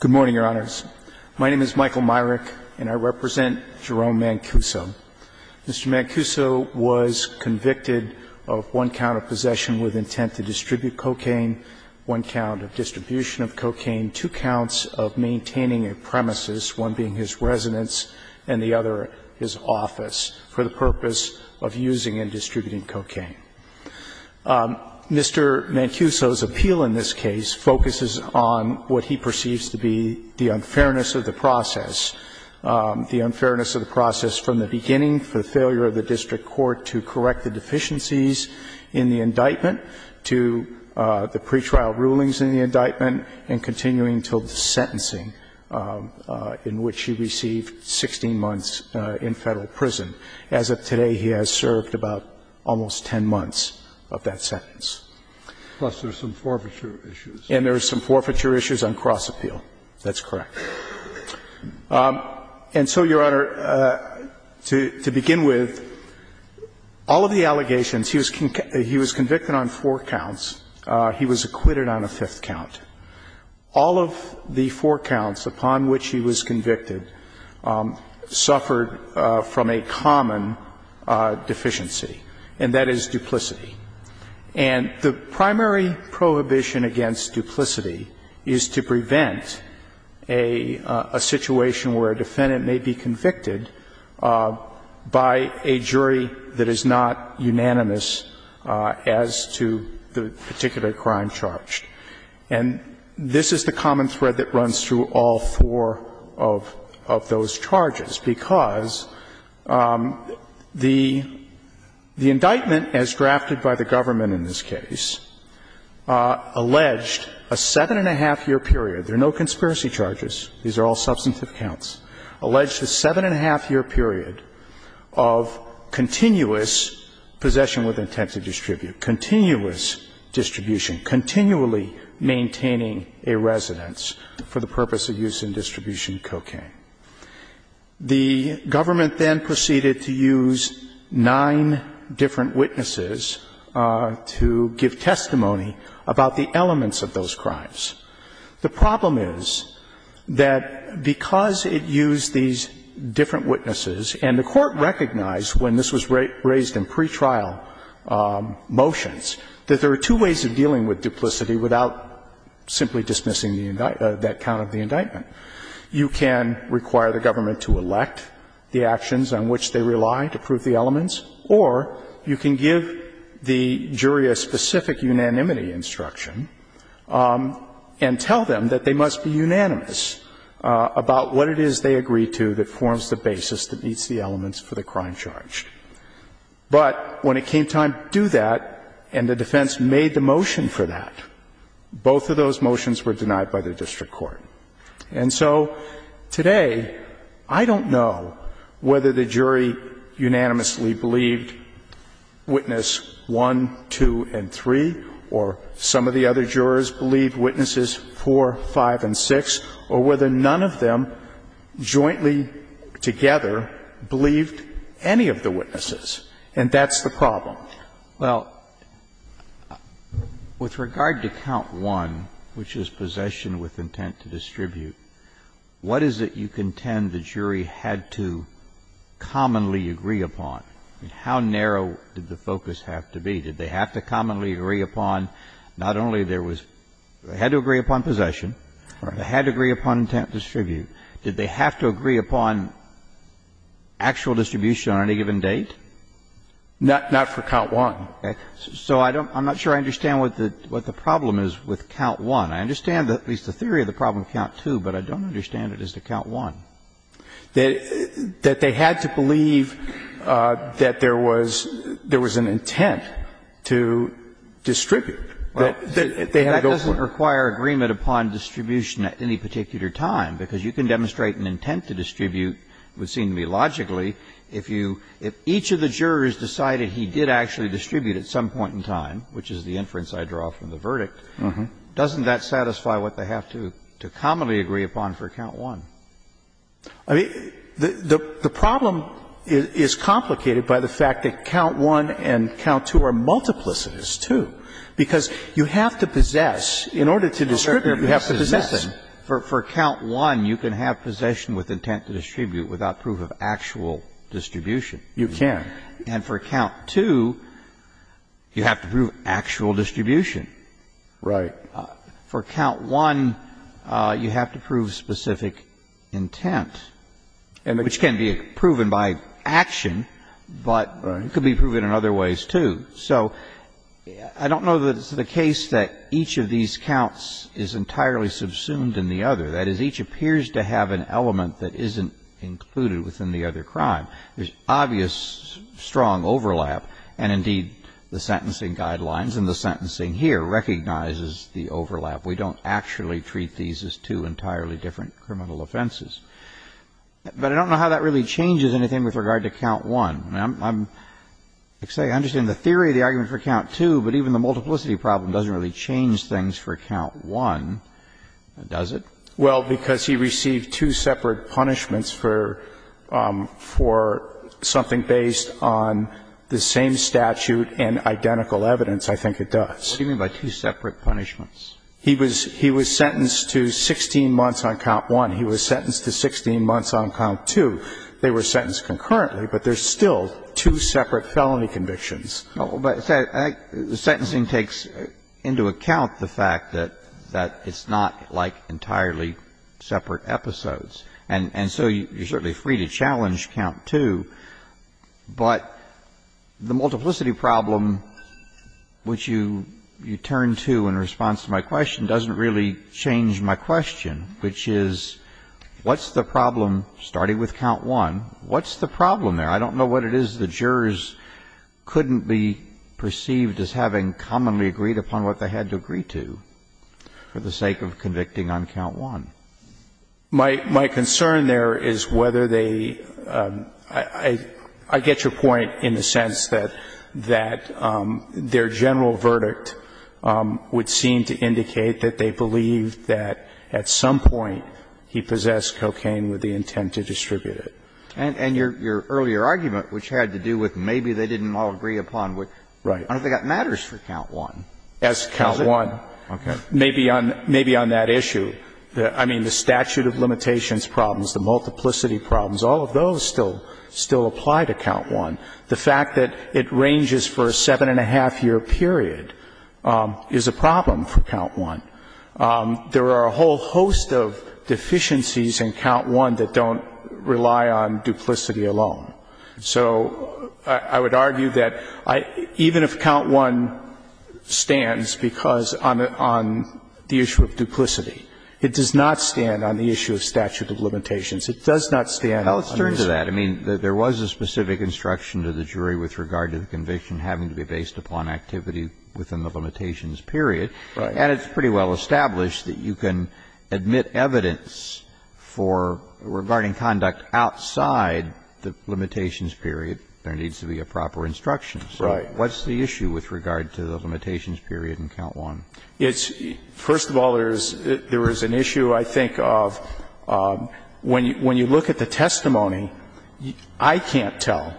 Good morning, Your Honors. My name is Michael Myrick, and I represent Jerome Mancuso. Mr. Mancuso was convicted of one count of possession with intent to distribute cocaine, one count of distribution of cocaine, two counts of maintaining a premises, one being his residence and the other his office, for the purpose of using and distributing cocaine. Mr. Mancuso's appeal in this case focuses on what he perceives to be the unfairness of the process, the unfairness of the process from the beginning for the failure of the district court to correct the deficiencies in the indictment to the pretrial rulings in the indictment and continuing until the sentencing in which he received 16 months in Federal prison. As of today, he has served about almost 10 months of that sentence. And there are some forfeiture issues on cross-appeal. That's correct. And so, Your Honor, to begin with, all of the allegations he was convicted on four counts, he was acquitted on a fifth count. All of the four counts upon which he was convicted suffered from a common deficiency, and that is duplicity. And the primary prohibition against duplicity is to prevent a situation where a defendant may be convicted by a jury that is not unanimous as to the particular crime charged. And this is the common thread that runs through all four of those charges, because the indictment, as drafted by the government in this case, alleged a seven-and-a-half year period. There are no conspiracy charges. These are all substantive counts. Alleged a seven-and-a-half year period of continuous possession with intent to distribute, continuous distribution, continually maintaining a residence for the purpose of use in distribution cocaine. The government then proceeded to use nine different witnesses to give testimony about the elements of those crimes. The problem is that because it used these different witnesses, and the Court recognized when this was raised in pretrial motions, that there are two ways of dealing with You can require the government to elect the actions on which they rely to prove the elements, or you can give the jury a specific unanimity instruction and tell them that they must be unanimous about what it is they agree to that forms the basis that meets the elements for the crime charge. But when it came time to do that and the defense made the motion for that, both of those motions were denied by the district court. And so today, I don't know whether the jury unanimously believed witness 1, 2, and 3, or some of the other jurors believed witnesses 4, 5, and 6, or whether none of them jointly together believed any of the witnesses. And that's the problem. Well, with regard to count 1, which is possession with intent to distribute, what is it you contend the jury had to commonly agree upon? How narrow did the focus have to be? Did they have to commonly agree upon not only there was they had to agree upon possession, they had to agree upon intent to distribute, did they have to agree upon actual distribution on any given date? Not for count 1. So I'm not sure I understand what the problem is with count 1. I understand at least the theory of the problem with count 2, but I don't understand it as to count 1. That they had to believe that there was an intent to distribute. That doesn't require agreement upon distribution at any particular time, because you can demonstrate an intent to distribute, would seem to me logically, if you – if each of the jurors decided he did actually distribute at some point in time, which is the inference I draw from the verdict, doesn't that satisfy what they have to commonly agree upon for count 1? I mean, the problem is complicated by the fact that count 1 and count 2 are multiplicitous, too, because you have to possess, in order to distribute, you have to possess. For count 1, you can have possession with intent to distribute without proof of actual distribution. You can. And for count 2, you have to prove actual distribution. Right. For count 1, you have to prove specific intent, which can be proven by action, but it could be proven in other ways, too. So I don't know that it's the case that each of these counts is entirely subsumed in the other. That is, each appears to have an element that isn't included within the other crime. There's obvious strong overlap, and indeed, the sentencing guidelines and the sentencing here recognizes the overlap. We don't actually treat these as two entirely different criminal offenses. But I don't know how that really changes anything with regard to count 1. I understand the theory of the argument for count 2, but even the multiplicity problem doesn't really change things for count 1, does it? Well, because he received two separate punishments for something based on the same statute and identical evidence, I think it does. What do you mean by two separate punishments? He was sentenced to 16 months on count 1. He was sentenced to 16 months on count 2. They were sentenced concurrently, but there's still two separate felony convictions. But the sentencing takes into account the fact that it's not like entirely separate episodes, and so you're certainly free to challenge count 2. But the multiplicity problem, which you turn to in response to my question, doesn't really change my question, which is what's the problem starting with count 1? What's the problem there? I don't know what it is the jurors couldn't be perceived as having commonly agreed upon what they had to agree to for the sake of convicting on count 1. My concern there is whether they – I get your point in the sense that their general verdict would seem to indicate that they believe that at some point he possessed cocaine with the intent to distribute it. And your earlier argument, which had to do with maybe they didn't all agree upon what – I don't think that matters for count 1. That's count 1. Okay. Maybe on that issue. I mean, the statute of limitations problems, the multiplicity problems, all of those still apply to count 1. The fact that it ranges for a seven-and-a-half-year period is a problem for count 1. There are a whole host of deficiencies in count 1 that don't rely on duplicity alone. So I would argue that even if count 1 stands because on the issue of duplicity, it does not stand on the issue of statute of limitations. It does not stand on the issue of duplicity. And the other thing I would say is that there is no instruction to the jury with regard to the conviction having to be based upon activity within the limitations period. Right. And it's pretty well established that you can admit evidence for – regarding conduct outside the limitations period. There needs to be a proper instruction. Right. So what's the issue with regard to the limitations period in count 1? It's – first of all, there is an issue, I think, of when you look at the testimony, I can't tell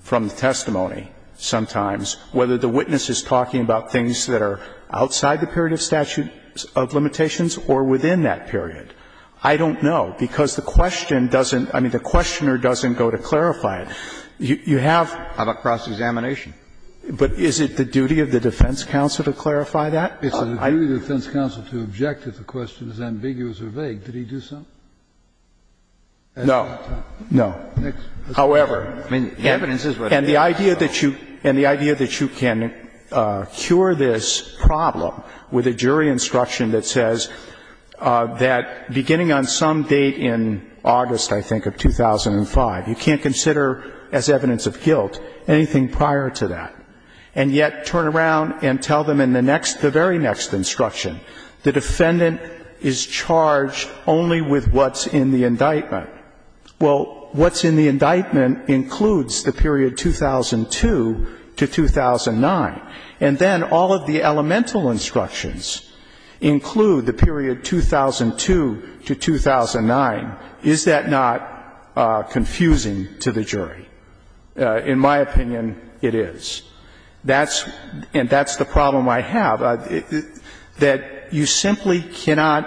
from the testimony sometimes whether the witness is talking about things that are outside the period of statute of limitations or within that period. I don't know, because the question doesn't – I mean, the questioner doesn't go to clarify it. You have – How about cross-examination? But is it the duty of the defense counsel to clarify that? It's a duty of the defense counsel to object if the question is ambiguous or vague. Did he do so? No. No. However, and the idea that you – and the idea that you can cure this problem with a jury instruction that says that beginning on some date in August, I think, of 2005, you can't consider as evidence of guilt anything prior to that. And yet turn around and tell them in the next – the very next instruction, the defendant is charged only with what's in the indictment. Well, what's in the indictment includes the period 2002 to 2009. And then all of the elemental instructions include the period 2002 to 2009. Is that not confusing to the jury? In my opinion, it is. That's – and that's the problem I have, that you simply cannot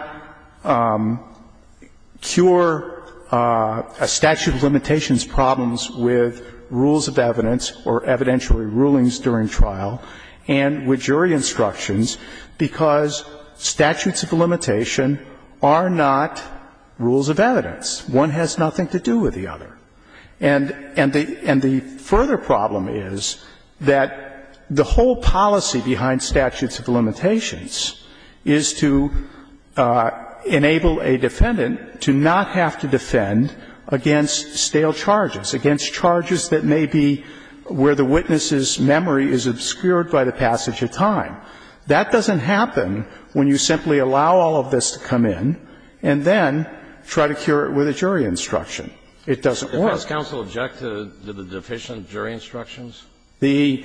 cure a statute of limitations problems with rules of evidence or evidentiary rulings during trial and with jury instructions because statutes of limitation are not rules of evidence. One has nothing to do with the other. And the further problem is that the whole policy behind statutes of limitations is to enable a defendant to not have to defend against stale charges, against charges that may be where the witness's memory is obscured by the passage of time. That doesn't happen when you simply allow all of this to come in and then try to cure it with a jury instruction. It doesn't work. The defense counsel objected to the deficient jury instructions? The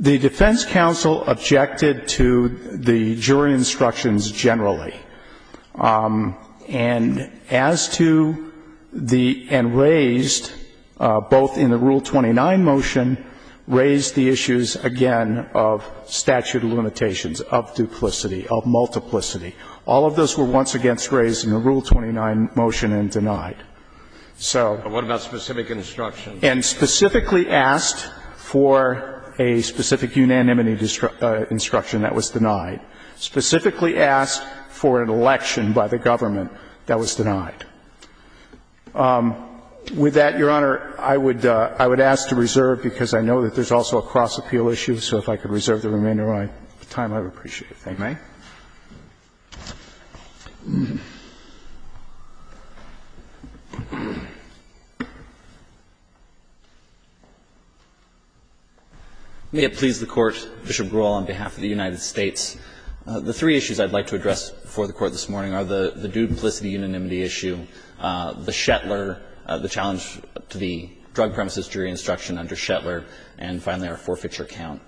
defense counsel objected to the jury instructions generally. And as to the – and raised both in the Rule 29 motion, raised the issues again of statute of limitations, of duplicity, of multiplicity. All of those were once again raised in the Rule 29 motion and denied. So – But what about specific instructions? And specifically asked for a specific unanimity instruction that was denied. Specifically asked for an election by the government that was denied. With that, Your Honor, I would ask to reserve, because I know that there's also a cross-appeal issue, so if I could reserve the remainder of my time, I would appreciate it. Thank you, Your Honor. May it please the Court. Bishop Grewal on behalf of the United States. The three issues I'd like to address before the Court this morning are the duplicity unanimity issue, the Shetler, the challenge to the drug premises jury instruction under Shetler, and finally, our forfeiture count.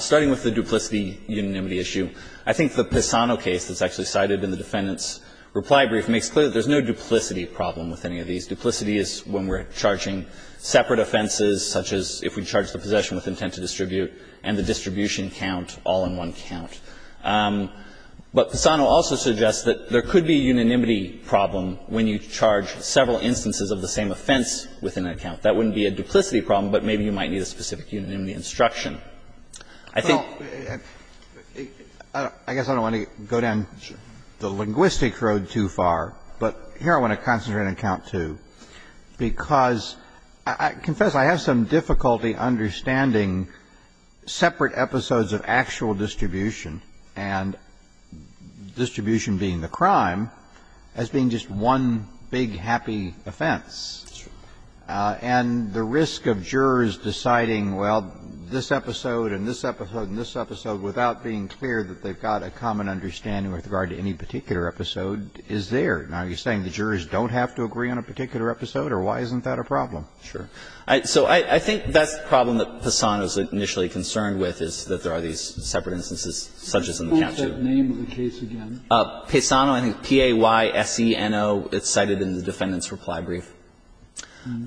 Starting with the duplicity unanimity issue, I think the Pisano case that's actually cited in the Defendant's reply brief makes clear that there's no duplicity problem with any of these. Duplicity is when we're charging separate offenses, such as if we charge the possession with intent to distribute and the distribution count all in one count. But Pisano also suggests that there could be a unanimity problem when you charge several instances of the same offense within that count. That wouldn't be a duplicity problem, but maybe you might need a specific unanimity instruction. I think that's, I guess I don't want to go down the linguistic road too far. But here I want to concentrate on count two, because I confess I have some difficulty understanding separate episodes of actual distribution and distribution being the crime as being just one big happy offense. That's true. And the risk of jurors deciding, well, this episode and this episode and this episode without being clear that they've got a common understanding with regard to any particular episode is there. Now, are you saying the jurors don't have to agree on a particular episode, or why isn't that a problem? Sure. So I think that's the problem that Paisano's initially concerned with, is that there are these separate instances such as in the count two. Can you point to that name of the case again? Paisano, I think P-A-Y-S-E-N-O, it's cited in the defendant's reply brief.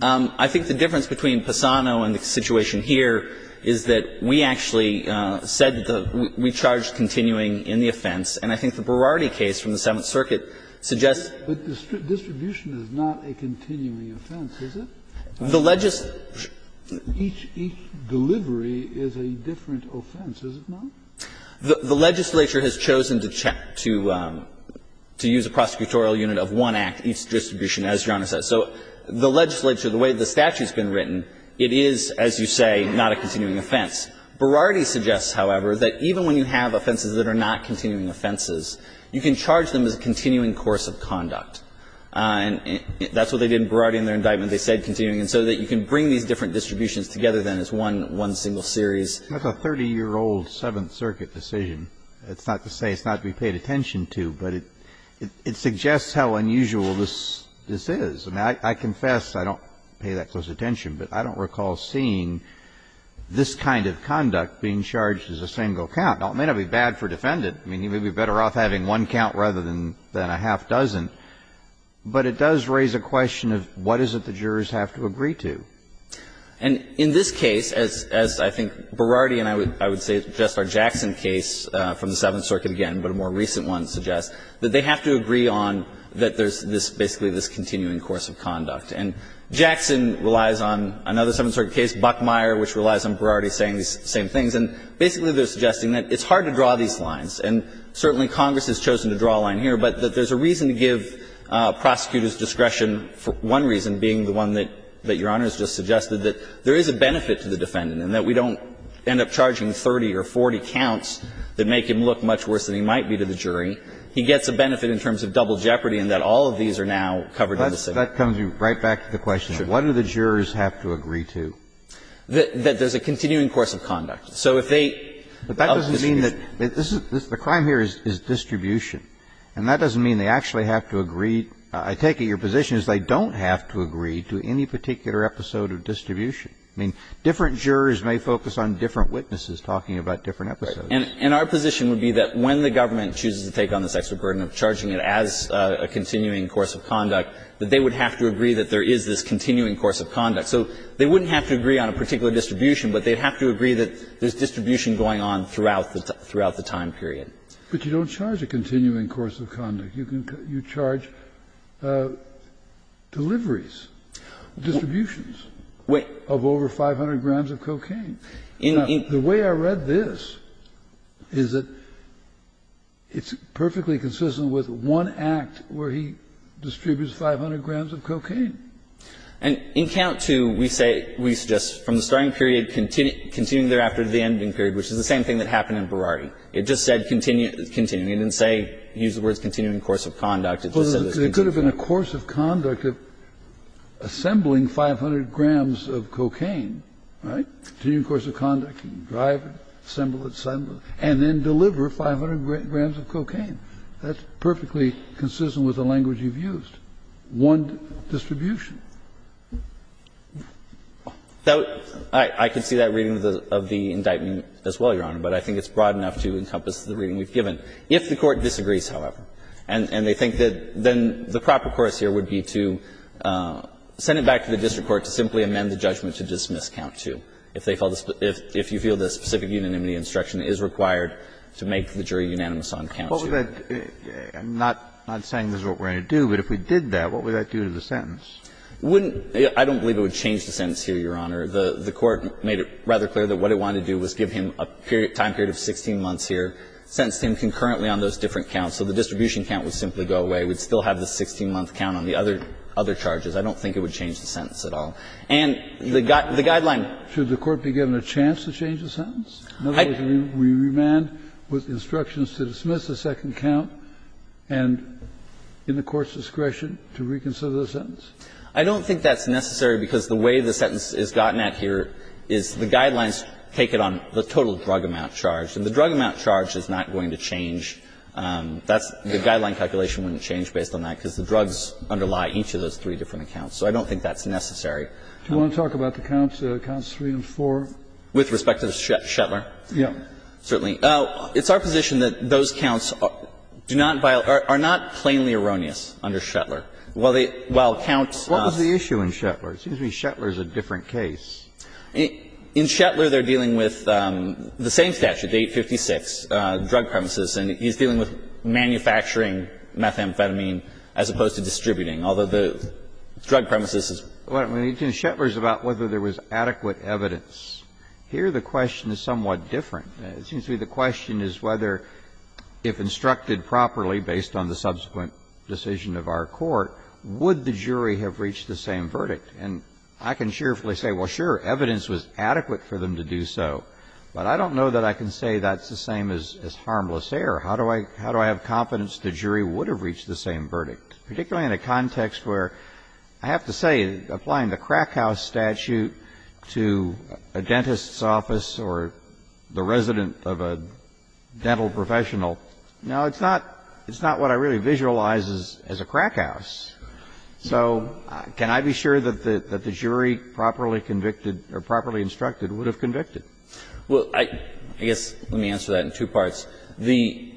I think the difference between Paisano and the situation here is that we actually said the we charged continuing in the offense, and I think the Berardi case from the Seventh Circuit suggests. But distribution is not a continuing offense, is it? The legislature. Each delivery is a different offense, is it not? The legislature has chosen to use a prosecutorial unit of one act, each distribution, as Your Honor says. So the legislature, the way the statute's been written, it is, as you say, not a continuing offense. Berardi suggests, however, that even when you have offenses that are not continuing offenses, you can charge them as a continuing course of conduct. And that's what they did in Berardi in their indictment. They said continuing, and so that you can bring these different distributions together, then, as one single series. Kennedy, that's a 30-year-old Seventh Circuit decision. It's not to say it's not to be paid attention to, but it suggests how unusual this is. I confess I don't pay that close attention, but I don't recall seeing this kind of conduct being charged as a single count. Now, it may not be bad for a defendant. I mean, he may be better off having one count rather than a half dozen. But it does raise a question of what is it the jurors have to agree to. And in this case, as I think Berardi and I would suggest, our Jackson case from the Seventh Circuit, again, but a more recent one suggests, that they have to agree on that there's basically this continuing course of conduct. And Jackson relies on another Seventh Circuit case, Buckmeyer, which relies on Berardi saying these same things. And basically, they're suggesting that it's hard to draw these lines, and certainly Congress has chosen to draw a line here, but that there's a reason to give prosecutors discretion, for one reason being the one that Your Honor has just suggested, that there is a benefit to the defendant, and that we don't end up charging 30 or 40 counts that make him look much worse than he might be to the jury. And he gets a benefit in terms of double jeopardy in that all of these are now covered in the Seventh Circuit. Kennedy. That comes right back to the question, what do the jurors have to agree to? That there's a continuing course of conduct. So if they of distribution. But that doesn't mean that this is the crime here is distribution. And that doesn't mean they actually have to agree. I take it your position is they don't have to agree to any particular episode of distribution. I mean, different jurors may focus on different witnesses talking about different episodes. And our position would be that when the government chooses to take on this extra burden of charging it as a continuing course of conduct, that they would have to agree that there is this continuing course of conduct. So they wouldn't have to agree on a particular distribution, but they'd have to agree that there's distribution going on throughout the time period. But you don't charge a continuing course of conduct. You charge deliveries, distributions of over 500 grams of cocaine. Now, the way I read this is that it's perfectly consistent with one act where he distributes 500 grams of cocaine. And in Count II, we say we suggest from the starting period, continuing thereafter to the ending period, which is the same thing that happened in Berardi. It just said continuing. It didn't say, use the words continuing course of conduct. It just said it was continuing. Well, there could have been a course of conduct of assembling 500 grams of cocaine. Right? A continuing course of conduct, drive, assemble, assemble, and then deliver 500 grams of cocaine. That's perfectly consistent with the language you've used, one distribution. So I can see that reading of the indictment as well, Your Honor, but I think it's broad enough to encompass the reading we've given. If the Court disagrees, however, and they think that then the proper course here would be to send it back to the district court to simply amend the judgment to dismiss Count II, if you feel the specific unanimity instruction is required to make the jury unanimous on Count II. Kennedy, I'm not saying this is what we're going to do, but if we did that, what would that do to the sentence? I don't believe it would change the sentence here, Your Honor. The Court made it rather clear that what it wanted to do was give him a time period of 16 months here, sentenced him concurrently on those different counts. So the distribution count would simply go away. We'd still have the 16-month count on the other charges. I don't think it would change the sentence at all. And the guideline. Kennedy, should the Court be given a chance to change the sentence? In other words, we remand with instructions to dismiss the second count and, in the Court's discretion, to reconsider the sentence? I don't think that's necessary, because the way the sentence is gotten at here is the guidelines take it on the total drug amount charged, and the drug amount charged is not going to change. That's the guideline calculation wouldn't change based on that, because the drugs underlie each of those three different accounts. So I don't think that's necessary. Do you want to talk about the counts, counts 3 and 4? With respect to Shetlar? Yes. Certainly. It's our position that those counts do not violate or are not plainly erroneous under Shetlar. While they – while counts – What was the issue in Shetlar? It seems to me Shetlar is a different case. In Shetlar, they're dealing with the same statute, 856, drug premises. And he's dealing with manufacturing methamphetamine as opposed to distributing, although the drug premises is – Well, when he's doing Shetlar, it's about whether there was adequate evidence. Here the question is somewhat different. It seems to me the question is whether, if instructed properly based on the subsequent decision of our court, would the jury have reached the same verdict. And I can cheerfully say, well, sure, evidence was adequate for them to do so. But I don't know that I can say that's the same as harmless error. How do I – how do I have confidence the jury would have reached the same verdict, particularly in a context where, I have to say, applying the crack house statute to a dentist's office or the resident of a dental professional, no, it's not – it's not what I really visualize as a crack house. So can I be sure that the jury properly convicted or properly instructed would have convicted? Well, I guess let me answer that in two parts. The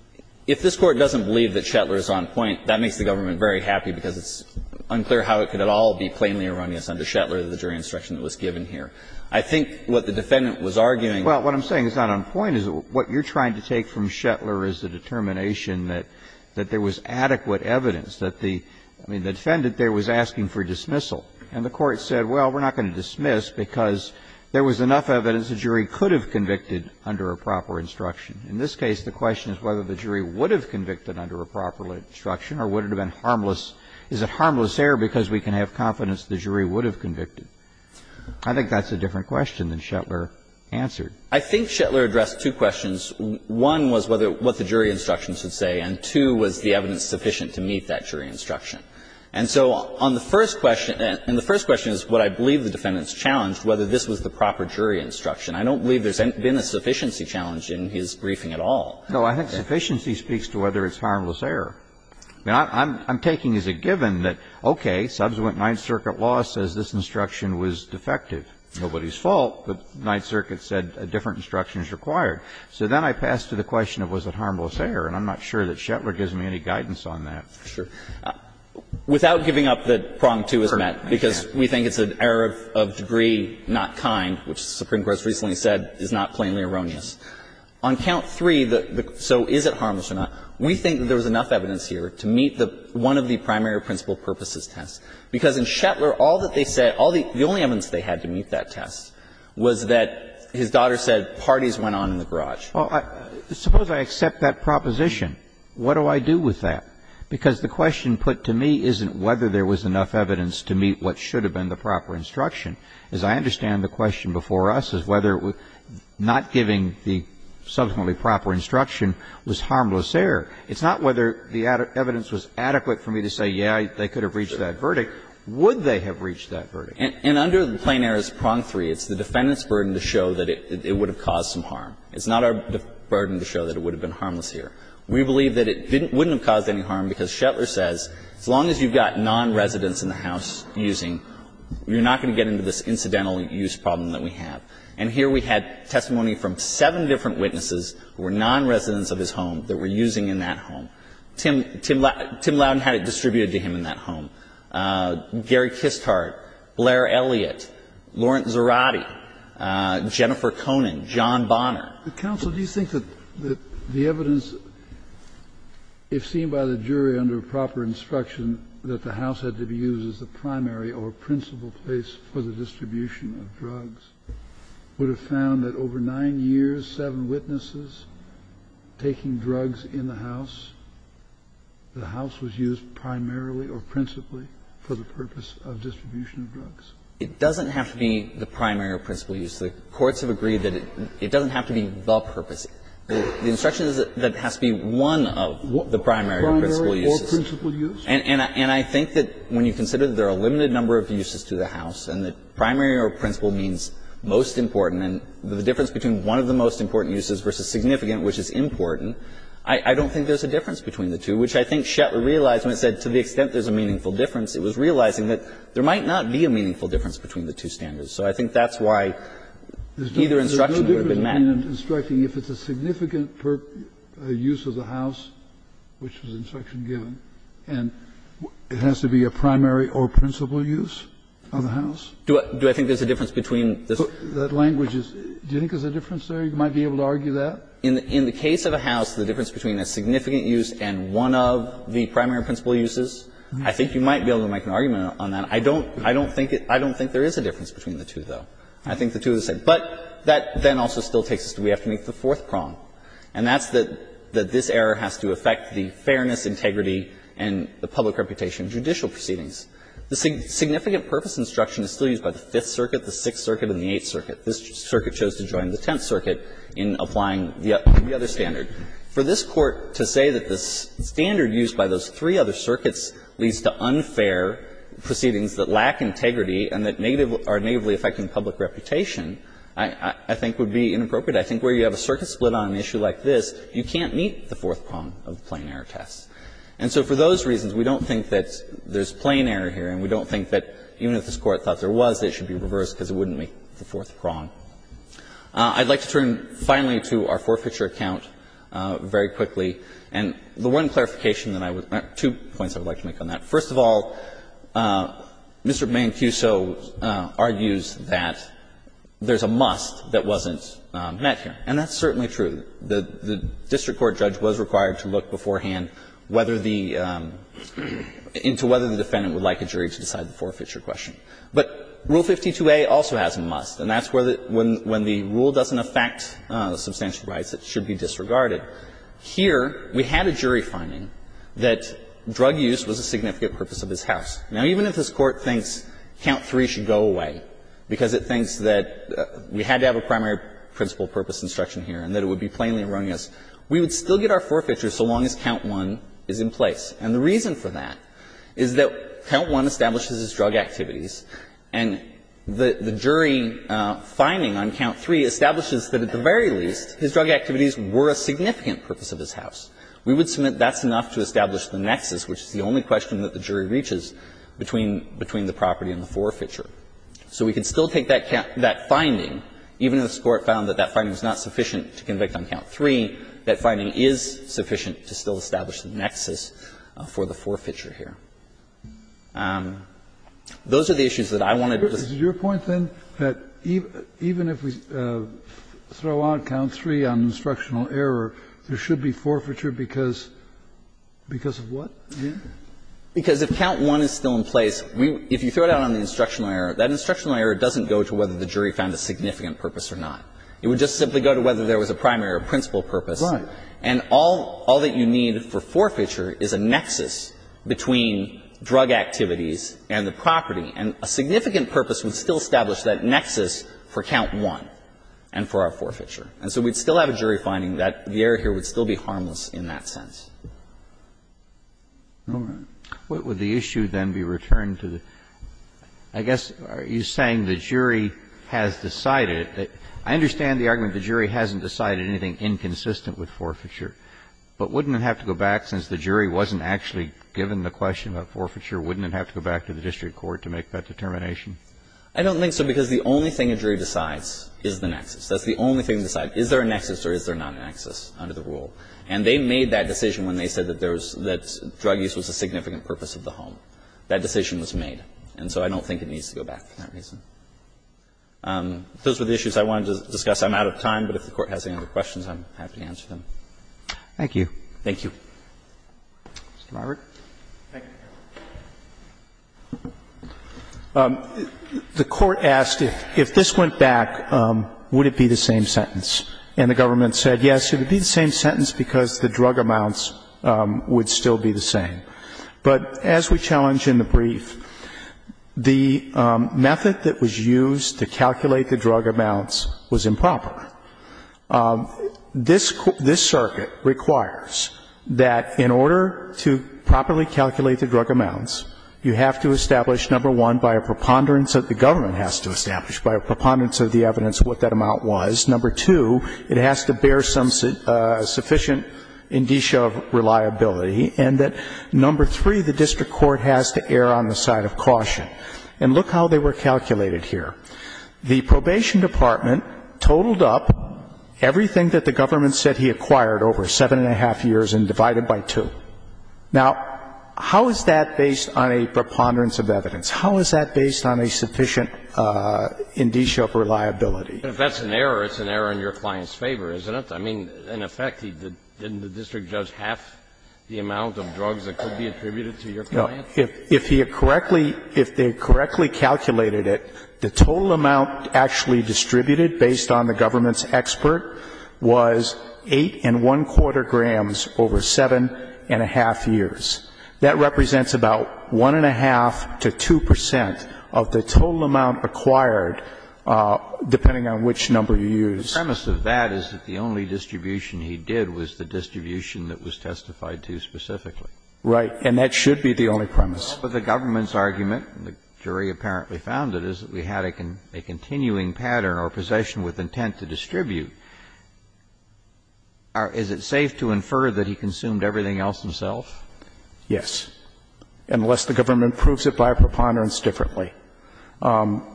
– if this Court doesn't believe that Shetlar is on point, that makes the government very happy because it's unclear how it could at all be plainly erroneous under Shetlar that the jury instruction that was given here. I think what the defendant was arguing – Well, what I'm saying is not on point, is what you're trying to take from Shetlar is the determination that there was adequate evidence, that the – I mean, the defendant there was asking for dismissal. And the Court said, well, we're not going to dismiss because there was enough evidence the jury could have convicted under a proper instruction. In this case, the question is whether the jury would have convicted under a proper instruction or would it have been harmless – is it harmless error because we can have confidence the jury would have convicted? I think that's a different question than Shetlar answered. I think Shetlar addressed two questions. One was whether – what the jury instruction should say, and two was the evidence sufficient to meet that jury instruction. And so on the first question – and the first question is what I believe the defendant has challenged, whether this was the proper jury instruction. I don't believe there's been a sufficiency challenge in his briefing at all. No, I think sufficiency speaks to whether it's harmless error. I mean, I'm taking as a given that, okay, subsequent Ninth Circuit law says this instruction was defective. Nobody's fault, but Ninth Circuit said a different instruction is required. So then I pass to the question of was it harmless error, and I'm not sure that Shetlar gives me any guidance on that. Sure. Without giving up that prong 2 is met, because we think it's an error of degree not kind, which the Supreme Court's recently said is not plainly erroneous. On count 3, so is it harmless or not, we think there was enough evidence here to meet the – one of the primary principle purposes test, because in Shetlar, all that they said, all the – the only evidence they had to meet that test was that his daughter said parties went on in the garage. Well, suppose I accept that proposition. What do I do with that? Because the question put to me isn't whether there was enough evidence to meet what should have been the proper instruction. As I understand the question before us is whether not giving the subsequently proper instruction was harmless error. It's not whether the evidence was adequate for me to say, yes, they could have reached that verdict. Would they have reached that verdict? And under the plain errors prong 3, it's the defendant's burden to show that it would have caused some harm. It's not our burden to show that it would have been harmless error. We believe that it didn't – wouldn't have caused any harm, because Shetlar says as long as you've got nonresidents in the house using, you're not going to get into this incidental use problem that we have. And here we had testimony from seven different witnesses who were nonresidents of his home that were using in that home. Tim – Tim Loudon had it distributed to him in that home. Gary Kisthardt, Blair Elliott, Lawrence Zarate, Jennifer Conan, John Bonner. The counsel, do you think that the evidence, if seen by the jury under proper instruction, that the house had to be used as the primary or principal place for the distribution of drugs would have found that over 9 years, 7 witnesses taking drugs in the house, the house was used primarily or principally for the purpose of distribution of drugs? It doesn't have to be the primary or principal use. The courts have agreed that it doesn't have to be the purpose. The instruction is that it has to be one of the primary or principal uses. And I think that when you consider that there are a limited number of uses to the house and the primary or principal means most important and the difference between one of the most important uses versus significant, which is important, I don't think there's a difference between the two, which I think Shetler realized when he said to the extent there's a meaningful difference, it was realizing that there might not be a meaningful difference between the two standards. So I think that's why neither instruction would have been met. Kennedy, instructing, if it's a significant use of the house, which was the instruction given, and it has to be a primary or principal use of the house? Do I think there's a difference between this? That language is, do you think there's a difference there? You might be able to argue that. In the case of a house, the difference between a significant use and one of the primary or principal uses, I think you might be able to make an argument on that. I don't think there is a difference between the two, though. I think the two are the same. But that then also still takes us to we have to meet the fourth prong, and that's that this error has to affect the fairness, integrity, and the public reputation judicial proceedings. The significant purpose instruction is still used by the Fifth Circuit, the Sixth Circuit, and the Eighth Circuit. This circuit chose to join the Tenth Circuit in applying the other standard. For this Court to say that the standard used by those three other circuits leads to unfair proceedings that lack integrity and that are negatively affecting public reputation, I think would be inappropriate. I think where you have a circuit split on an issue like this, you can't meet the fourth prong of the plain error test. And so for those reasons, we don't think that there's plain error here, and we don't think that even if this Court thought there was, that it should be reversed because it wouldn't meet the fourth prong. I'd like to turn finally to our forfeiture account very quickly. And the one clarification that I would make, two points I would like to make on that. First of all, Mr. Mancuso argues that there's a must that wasn't met here. And that's certainly true. The district court judge was required to look beforehand whether the into whether the defendant would like a jury to decide the forfeiture question. But Rule 52a also has a must, and that's where the rule doesn't affect substantial rights that should be disregarded. Here, we had a jury finding that drug use was a significant purpose of his house. Now, even if this Court thinks count three should go away because it thinks that we had to have a primary principle purpose instruction here and that it would be plainly erroneous, we would still get our forfeiture so long as count one is in place. And the reason for that is that count one establishes his drug activities, and the jury finding on count three establishes that at the very least his drug activities were a significant purpose of his house. We would submit that's enough to establish the nexus, which is the only question that the jury reaches between the property and the forfeiture. So we could still take that finding, even if this Court found that that finding is not sufficient to convict on count three, that finding is sufficient to still establish the nexus for the forfeiture here. Those are the issues that I wanted to just say. And I'm just wondering, even if we throw out count three on instructional error, there should be forfeiture because of what? Because if count one is still in place, if you throw it out on the instructional error, that instructional error doesn't go to whether the jury found a significant purpose or not. It would just simply go to whether there was a primary or principle purpose. Right. And all that you need for forfeiture is a nexus between drug activities and the property. And a significant purpose would still establish that nexus for count one and for our forfeiture. And so we'd still have a jury finding that the error here would still be harmless in that sense. Roberts. What would the issue then be returned to the – I guess you're saying the jury has decided that – I understand the argument the jury hasn't decided anything inconsistent with forfeiture, but wouldn't it have to go back, since the jury wasn't actually given the question of forfeiture, wouldn't it have to go back to the district court to make that determination? I don't think so, because the only thing a jury decides is the nexus. That's the only thing they decide, is there a nexus or is there not a nexus under the rule. And they made that decision when they said that there was – that drug use was a significant purpose of the home. That decision was made. And so I don't think it needs to go back for that reason. Those were the issues I wanted to discuss. I'm out of time, but if the Court has any other questions, I'm happy to answer them. Thank you. Thank you. Mr. Robert. Thank you, Your Honor. The Court asked, if this went back, would it be the same sentence? And the government said, yes, it would be the same sentence because the drug amounts would still be the same. But as we challenge in the brief, the method that was used to calculate the drug amounts was improper. This circuit requires that in order to properly calculate the drug amounts, you have to establish, number one, by a preponderance that the government has to establish, by a preponderance of the evidence of what that amount was. Number two, it has to bear some sufficient indicia of reliability. And that, number three, the district court has to err on the side of caution. And look how they were calculated here. The probation department totaled up everything that the government said he acquired over 7-1⁄2 years and divided by 2. Now, how is that based on a preponderance of evidence? How is that based on a sufficient indicia of reliability? If that's an error, it's an error in your client's favor, isn't it? I mean, in effect, didn't the district judge half the amount of drugs that could be attributed to your client? If he had correctly, if they had correctly calculated it, the total amount actually distributed based on the government's expert was 8-1⁄4 grams over 7-1⁄2 years. That represents about 1-1⁄2 to 2 percent of the total amount acquired, depending on which number you use. The premise of that is that the only distribution he did was the distribution that was testified to specifically. Right. And that should be the only premise. But the government's argument, and the jury apparently found it, is that we had a continuing pattern or possession with intent to distribute. Is it safe to infer that he consumed everything else himself? Yes, unless the government proves it by a preponderance differently.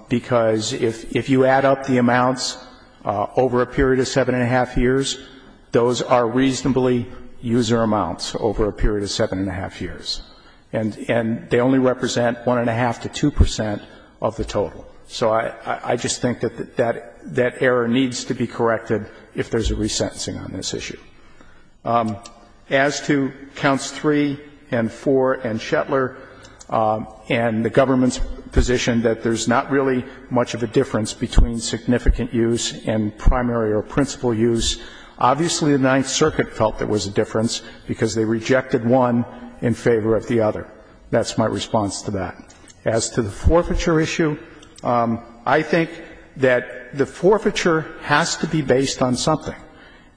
Because if you add up the amounts over a period of 7-1⁄2 years, those are reasonably user amounts over a period of 7-1⁄2 years. And they only represent 1-1⁄2 to 2 percent of the total. So I just think that that error needs to be corrected if there's a resentencing on this issue. As to counts 3 and 4 and Shetler and the government's position that there's not really much of a difference between significant use and primary or principal use, obviously the Ninth Circuit felt there was a difference because they rejected one in favor of the other. That's my response to that. As to the forfeiture issue, I think that the forfeiture has to be based on something.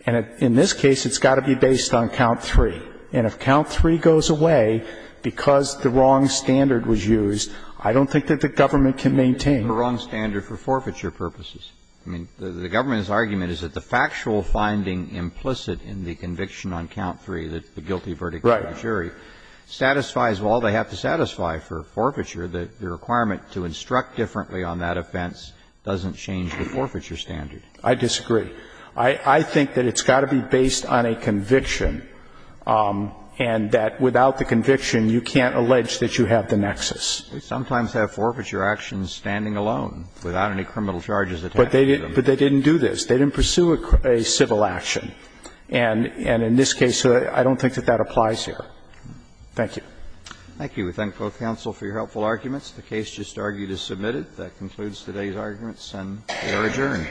And in this case, it's got to be based on count 3. And if count 3 goes away because the wrong standard was used, I don't think that the government can maintain. The wrong standard for forfeiture purposes. I mean, the government's argument is that the factual finding implicit in the conviction on count 3, the guilty verdict of the jury, satisfies all they have to satisfy for forfeiture. The requirement to instruct differently on that offense doesn't change the forfeiture standard. I disagree. I think that it's got to be based on a conviction and that without the conviction, you can't allege that you have the nexus. They sometimes have forfeiture actions standing alone without any criminal charges attached to them. But they didn't do this. They didn't pursue a civil action. And in this case, I don't think that that applies here. Thank you. Thank you. We thank both counsel for your helpful arguments. The case just argued is submitted. That concludes today's arguments and we are adjourned.